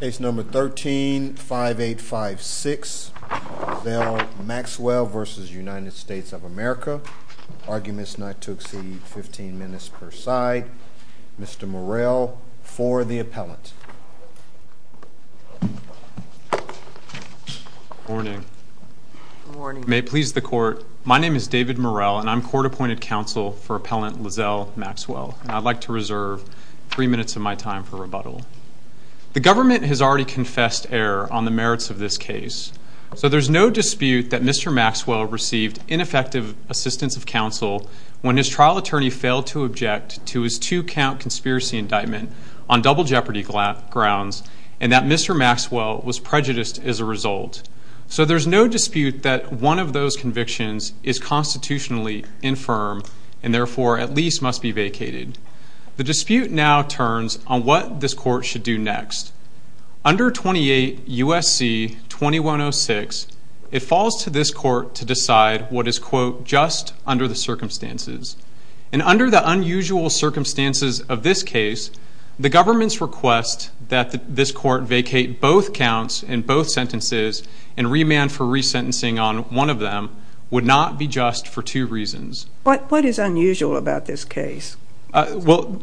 Case number 13-5856, LaZell Maxwell v. United States of America, arguments not to exceed 15 minutes per side. Mr. Morell for the appellant. Good morning. May it please the court, my name is David Morell and I'm court-appointed counsel for appellant LaZell Maxwell. I'd like to reserve three minutes of my time for rebuttal. The government has already confessed error on the merits of this case. So there's no dispute that Mr. Maxwell received ineffective assistance of counsel when his trial attorney failed to object to his two-count conspiracy indictment on double jeopardy grounds and that Mr. Maxwell was prejudiced as a result. So there's no dispute that one of those convictions is constitutionally infirm and therefore at least must be vacated. The dispute now turns on what this court should do next. Under 28 U.S.C. 2106, it falls to this court to decide what is, quote, just under the circumstances. And under the unusual circumstances of this case, the government's request that this court vacate both counts and both sentences and remand for resentencing on one of them would not be just for two reasons. What is unusual about this case? Well,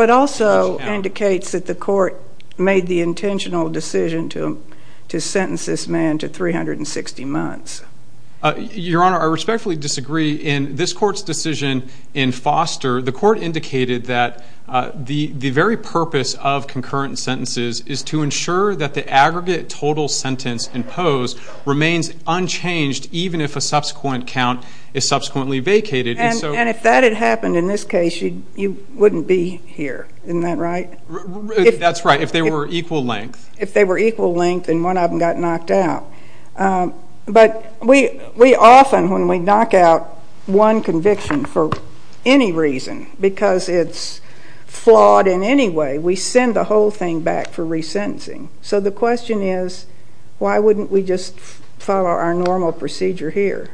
it also indicates that the court made the intentional decision to sentence this man to 360 months. Your Honor, I respectfully disagree. In this court's decision in Foster, the court indicated that the very purpose of concurrent sentences is to ensure that the aggregate total sentence imposed remains unchanged even if a subsequent count is subsequently vacated. And if that had happened in this case, you wouldn't be here. Isn't that right? That's right, if they were equal length. If they were equal length and one of them got knocked out. But we often, when we knock out one conviction for any reason, because it's flawed in any way, we send the whole thing back for resentencing. So the question is, why wouldn't we just follow our normal procedure here?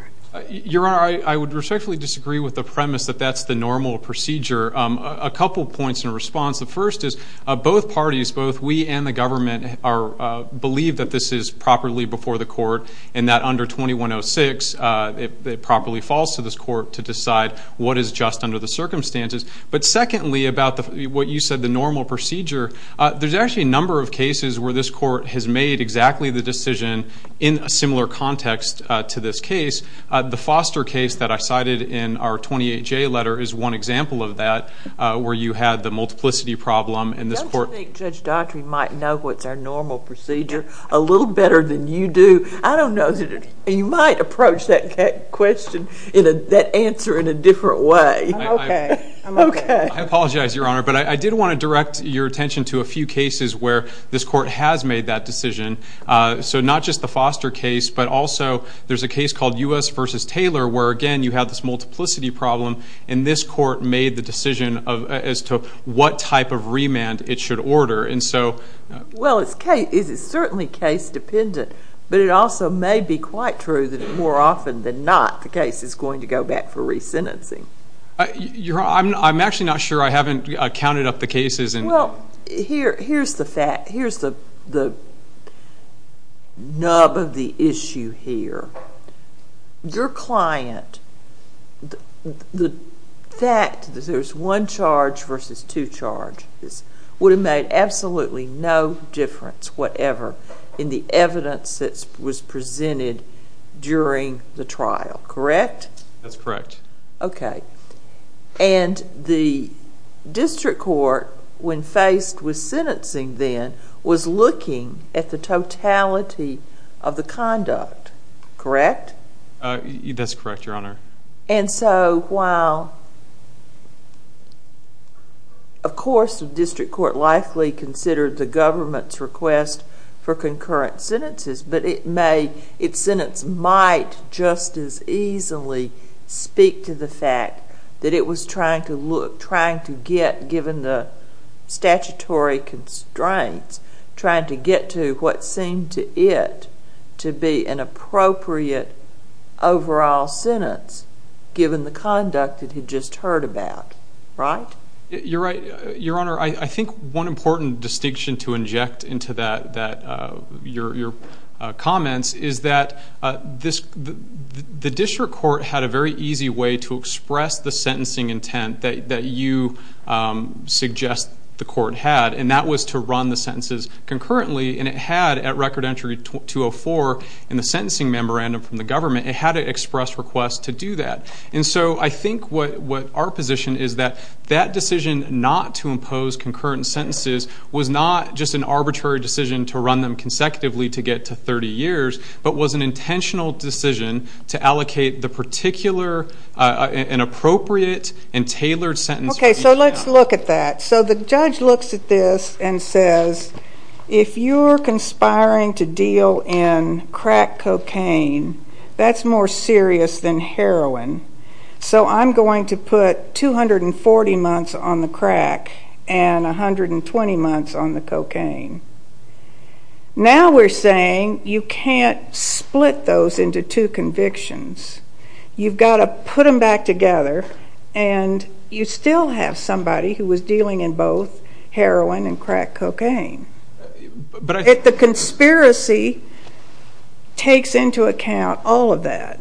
Your Honor, I would respectfully disagree with the premise that that's the normal procedure. A couple points in response. The first is both parties, both we and the government, believe that this is properly before the court and that under 2106 it properly falls to this court to decide what is just under the circumstances. But secondly, about what you said, the normal procedure, there's actually a number of cases where this court has made exactly the decision in a similar context to this case. The Foster case that I cited in our 28-J letter is one example of that where you had the multiplicity problem and this court— Don't you think Judge Daughtry might know what's our normal procedure a little better than you do? I don't know. You might approach that question, that answer, in a different way. I'm okay. I'm okay. I apologize, Your Honor, but I did want to direct your attention to a few cases where this court has made that decision. So not just the Foster case, but also there's a case called U.S. v. Taylor where, again, you have this multiplicity problem and this court made the decision as to what type of remand it should order. Well, it's certainly case dependent, but it also may be quite true that more often than not the case is going to go back for resentencing. Your Honor, I'm actually not sure. I haven't counted up the cases. Well, here's the fact—here's the nub of the issue here. Your client—the fact that there's one charge versus two charges would have made absolutely no difference, whatever, in the evidence that was presented during the trial, correct? That's correct. Okay. And the district court, when faced with sentencing then, was looking at the totality of the conduct, correct? That's correct, Your Honor. And so while, of course, the district court likely considered the government's request for concurrent sentences, but it may—its sentence might just as easily speak to the fact that it was trying to look—trying to get, given the statutory constraints, trying to get to what seemed to it to be an appropriate overall sentence, given the conduct it had just heard about, right? Your Honor, I think one important distinction to inject into that—your comments—is that the district court had a very easy way to express the sentencing intent that you suggest the court had, and that was to run the sentences concurrently. And it had, at Record Entry 204 in the sentencing memorandum from the government, it had an express request to do that. And so I think what our position is that that decision not to impose concurrent sentences was not just an arbitrary decision to run them consecutively to get to 30 years, but was an intentional decision to allocate the particular—an appropriate and tailored sentence— Okay, so let's look at that. So the judge looks at this and says, if you're conspiring to deal in crack cocaine, that's more serious than heroin. So I'm going to put 240 months on the crack and 120 months on the cocaine. Now we're saying you can't split those into two convictions. You've got to put them back together, and you still have somebody who was dealing in both heroin and crack cocaine. But I— If the conspiracy takes into account all of that.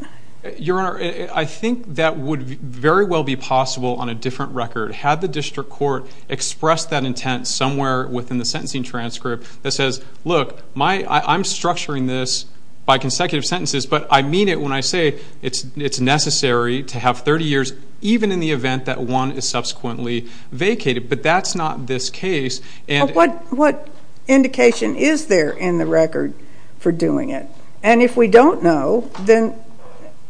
Your Honor, I think that would very well be possible on a different record. Had the district court expressed that intent somewhere within the sentencing transcript that says, look, I'm structuring this by consecutive sentences, but I mean it when I say it's necessary to have 30 years even in the event that one is subsequently vacated. But that's not this case. What indication is there in the record for doing it? And if we don't know, then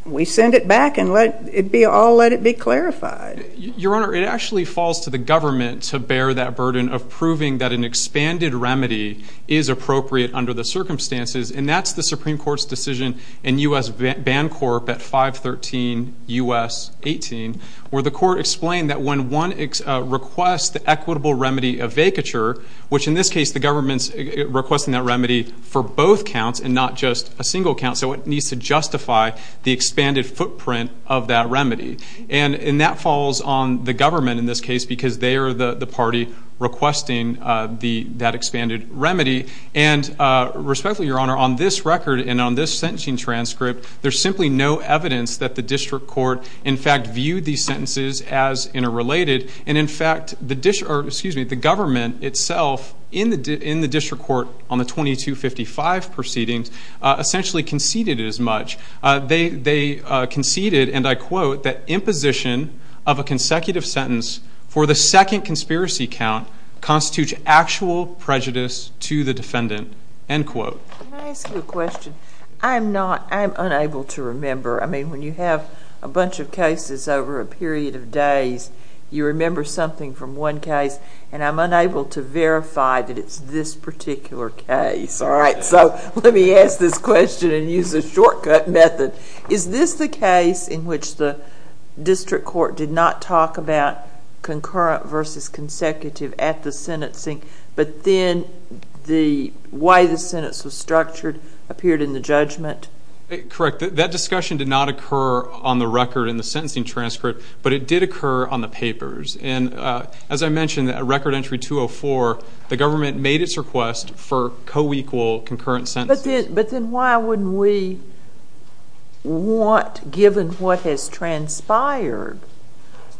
we send it back and let it be all—let it be clarified. Your Honor, it actually falls to the government to bear that burden of proving that an expanded remedy is appropriate under the circumstances, and that's the Supreme Court's decision in U.S. Bancorp at 513 U.S. 18, where the court explained that when one requests the equitable remedy of vacature, which in this case the government's requesting that remedy for both counts and not just a single count, so it needs to justify the expanded footprint of that remedy. And that falls on the government in this case because they are the party requesting that expanded remedy. And respectfully, Your Honor, on this record and on this sentencing transcript, there's simply no evidence that the district court in fact viewed these sentences as interrelated. And in fact, the government itself in the district court on the 2255 proceedings essentially conceded as much. They conceded, and I quote, that imposition of a consecutive sentence for the second conspiracy count constitutes actual prejudice to the defendant, end quote. Can I ask you a question? I'm not—I'm unable to remember. I mean, when you have a bunch of cases over a period of days, you remember something from one case, and I'm unable to verify that it's this particular case, all right? So let me ask this question and use a shortcut method. Is this the case in which the district court did not talk about concurrent versus consecutive at the sentencing, but then the way the sentence was structured appeared in the judgment? Correct. That discussion did not occur on the record in the sentencing transcript, but it did occur on the papers. And as I mentioned, at record entry 204, the government made its request for coequal concurrent sentences. But then why wouldn't we want, given what has transpired,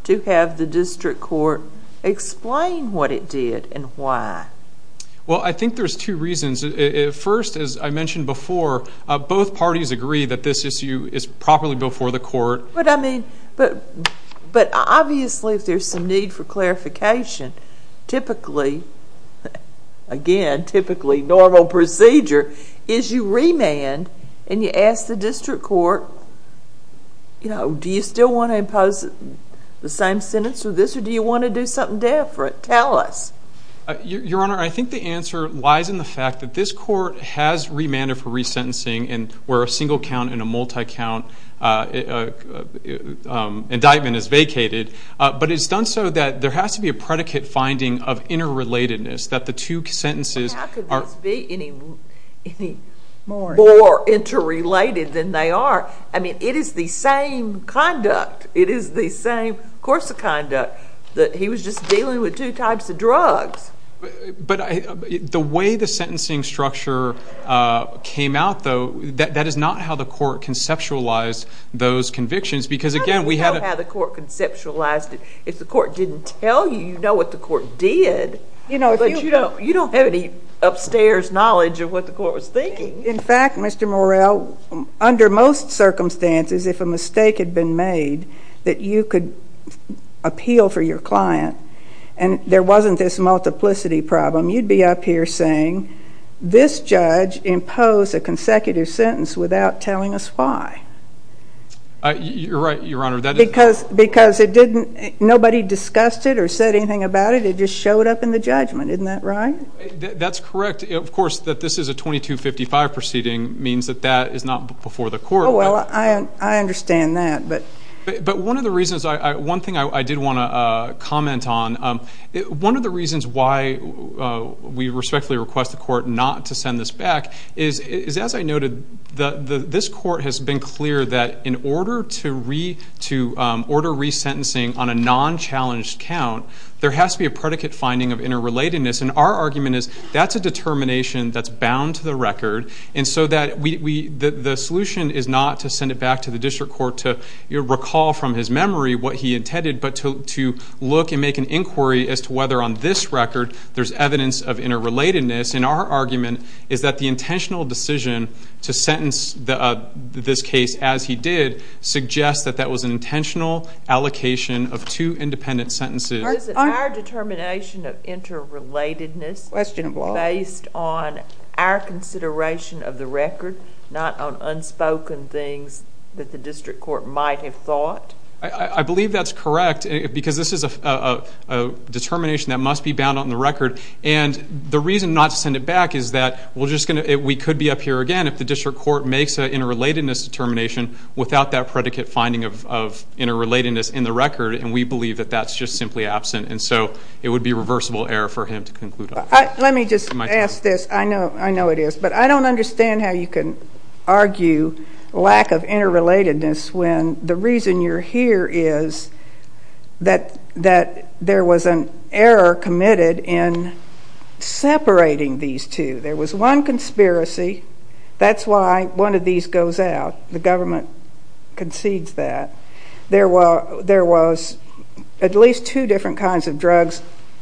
to have the district court explain what it did and why? Well, I think there's two reasons. First, as I mentioned before, both parties agree that this issue is properly before the court. But I mean—but obviously if there's some need for clarification, typically, again, typically normal procedure is you remand and you ask the district court, you know, do you still want to impose the same sentence or this, or do you want to do something different? Tell us. Your Honor, I think the answer lies in the fact that this court has remanded for resentencing where a single count and a multi-count indictment is vacated. But it's done so that there has to be a predicate finding of interrelatedness, that the two sentences are— I mean, it is the same conduct. It is the same course of conduct, that he was just dealing with two types of drugs. But the way the sentencing structure came out, though, that is not how the court conceptualized those convictions, because again, we had a— Well, you know how the court conceptualized it. If the court didn't tell you, you know what the court did. You know, if you— But you don't have any upstairs knowledge of what the court was thinking. In fact, Mr. Morrell, under most circumstances, if a mistake had been made that you could appeal for your client and there wasn't this multiplicity problem, you'd be up here saying, this judge imposed a consecutive sentence without telling us why. You're right, Your Honor. Because it didn't—nobody discussed it or said anything about it. It just showed up in the judgment. Isn't that right? That's correct. Of course, that this is a 2255 proceeding means that that is not before the court. Well, I understand that, but— But one of the reasons—one thing I did want to comment on, one of the reasons why we respectfully request the court not to send this back is, as I noted, this court has been clear that in order to re—to order resentencing on a non-challenged count, there has to be a predicate finding of interrelatedness. And our argument is that's a determination that's bound to the record. And so that we—the solution is not to send it back to the district court to recall from his memory what he intended, but to look and make an inquiry as to whether on this record there's evidence of interrelatedness. And our argument is that the intentional decision to sentence this case as he did suggests that that was an intentional allocation of two independent sentences. Is it our determination of interrelatedness based on our consideration of the record, not on unspoken things that the district court might have thought? I believe that's correct because this is a determination that must be bound on the record. And the reason not to send it back is that we're just going to—we could be up here again if the district court makes an interrelatedness determination without that predicate finding of interrelatedness in the record. And we believe that that's just simply absent. And so it would be reversible error for him to conclude on that. Let me just ask this. I know it is, but I don't understand how you can argue lack of interrelatedness when the reason you're here is that there was an error committed in separating these two. There was one conspiracy. That's why one of these goes out. The government concedes that. There was at least two different kinds of drugs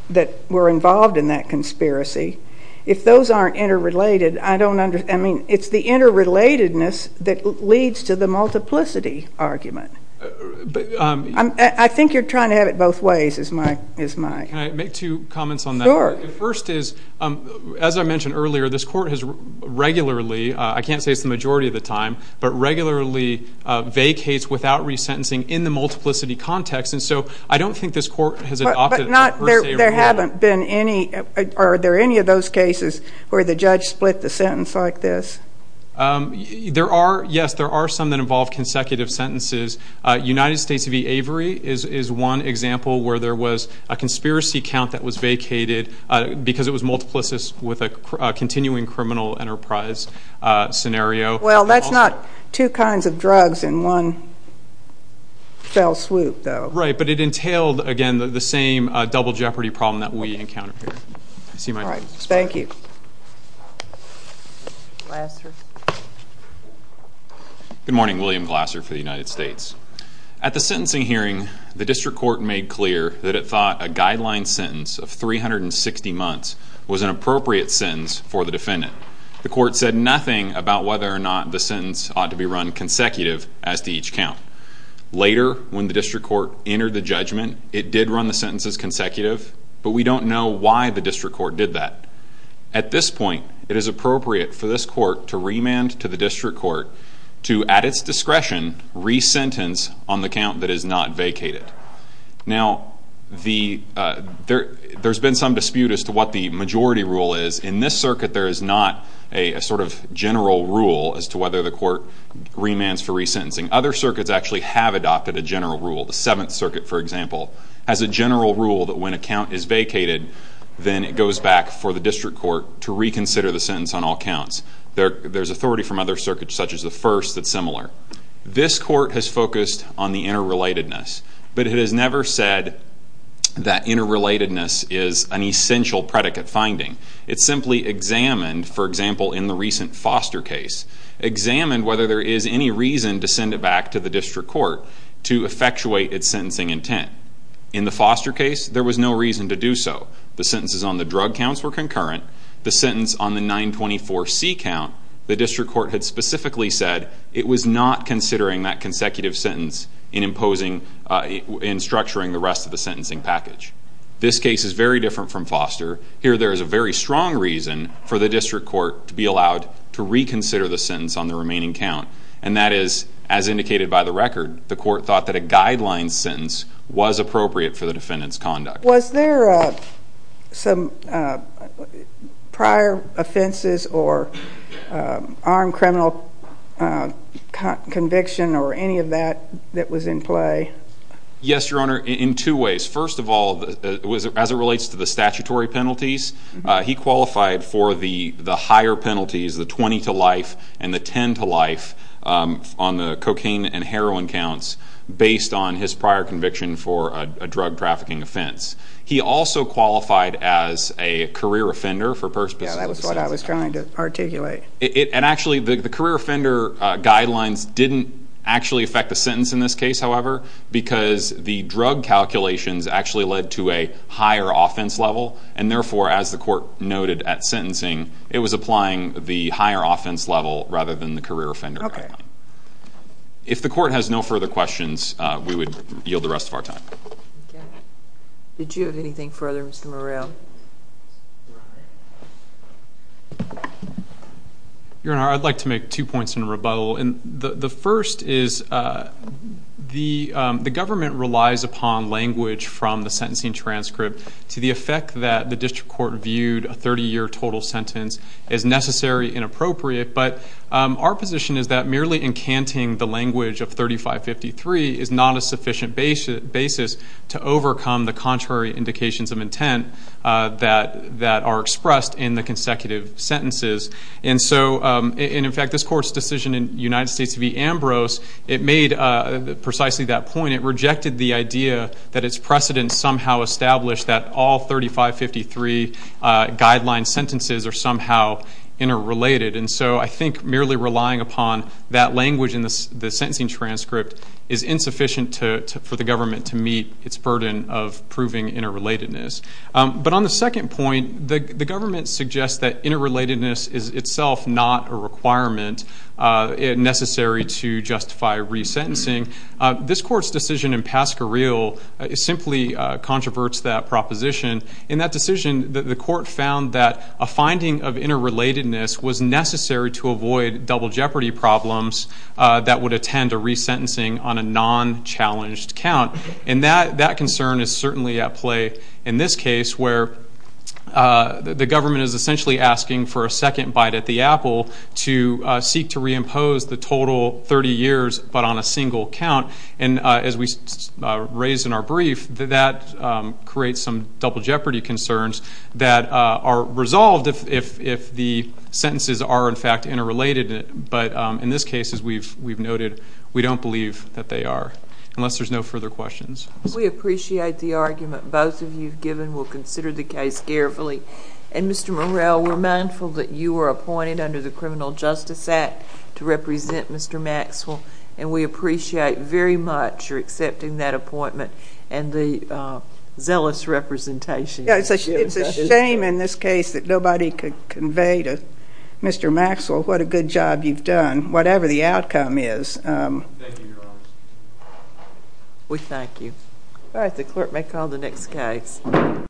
that were involved in that conspiracy. If those aren't interrelated, I don't—I mean, it's the interrelatedness that leads to the multiplicity argument. I think you're trying to have it both ways is my— Can I make two comments on that? Sure. The first is, as I mentioned earlier, this court has regularly—I can't say it's the majority of the time, but regularly vacates without resentencing in the multiplicity context. And so I don't think this court has adopted a per se— But not—there haven't been any—are there any of those cases where the judge split the sentence like this? There are—yes, there are some that involve consecutive sentences. United States v. Avery is one example where there was a conspiracy count that was vacated because it was multiplicitous with a continuing criminal enterprise scenario. Well, that's not two kinds of drugs in one fell swoop, though. Right, but it entailed, again, the same double jeopardy problem that we encounter here. All right. Thank you. Glasser. Good morning. William Glasser for the United States. At the sentencing hearing, the district court made clear that it thought a guideline sentence of 360 months was an appropriate sentence for the defendant. The court said nothing about whether or not the sentence ought to be run consecutive, as to each count. Later, when the district court entered the judgment, it did run the sentences consecutive, but we don't know why the district court did that. At this point, it is appropriate for this court to remand to the district court to, at its discretion, resentence on the count that is not vacated. Now, there's been some dispute as to what the majority rule is. In this circuit, there is not a sort of general rule as to whether the court remands for resentencing. Other circuits actually have adopted a general rule. The Seventh Circuit, for example, has a general rule that when a count is vacated, then it goes back for the district court to reconsider the sentence on all counts. There's authority from other circuits, such as the First, that's similar. This court has focused on the interrelatedness, but it has never said that interrelatedness is an essential predicate finding. It simply examined, for example, in the recent Foster case, examined whether there is any reason to send it back to the district court to effectuate its sentencing intent. In the Foster case, there was no reason to do so. The sentences on the drug counts were concurrent. The sentence on the 924C count, the district court had specifically said it was not considering that consecutive sentence in structuring the rest of the sentencing package. This case is very different from Foster. Here there is a very strong reason for the district court to be allowed to reconsider the sentence on the remaining count, and that is, as indicated by the record, the court thought that a guideline sentence was appropriate for the defendant's conduct. Was there some prior offenses or armed criminal conviction or any of that that was in play? Yes, Your Honor, in two ways. First of all, as it relates to the statutory penalties, he qualified for the higher penalties, the 20 to life and the 10 to life on the cocaine and heroin counts, based on his prior conviction for a drug trafficking offense. He also qualified as a career offender for perspicillative sentences. Yes, that was what I was trying to articulate. Actually, the career offender guidelines didn't actually affect the sentence in this case, however, because the drug calculations actually led to a higher offense level, and therefore, as the court noted at sentencing, it was applying the higher offense level rather than the career offender guideline. If the court has no further questions, we would yield the rest of our time. Did you have anything further, Mr. Morrell? Your Honor, I'd like to make two points in rebuttal. The first is the government relies upon language from the sentencing transcript to the effect that the district court viewed a 30-year total sentence as necessary and appropriate, but our position is that merely encanting the language of 3553 is not a sufficient basis to overcome the contrary indications of intent that are expressed in the consecutive sentences. In fact, this court's decision in United States v. Ambrose, it made precisely that point. It rejected the idea that its precedent somehow established that all 3553 guideline sentences are somehow interrelated. And so I think merely relying upon that language in the sentencing transcript is insufficient for the government to meet its burden of proving interrelatedness. But on the second point, the government suggests that interrelatedness is itself not a requirement necessary to justify resentencing. This court's decision in Pasquarelle simply controverts that proposition. In that decision, the court found that a finding of interrelatedness was necessary to avoid double jeopardy problems that would attend a resentencing on a non-challenged count, and that concern is certainly at play in this case where the government is essentially asking for a second bite at the apple to seek to reimpose the total 30 years but on a single count. And as we raised in our brief, that creates some double jeopardy concerns that are resolved if the sentences are, in fact, interrelated. But in this case, as we've noted, we don't believe that they are, unless there's no further questions. We appreciate the argument both of you have given. We'll consider the case carefully. And, Mr. Morrell, we're mindful that you were appointed under the Criminal Justice Act to represent Mr. Maxwell, and we appreciate very much your accepting that appointment and the zealous representation. It's a shame in this case that nobody could convey to Mr. Maxwell what a good job you've done, whatever the outcome is. Thank you, Your Honor. We thank you. All right, the clerk may call the next case.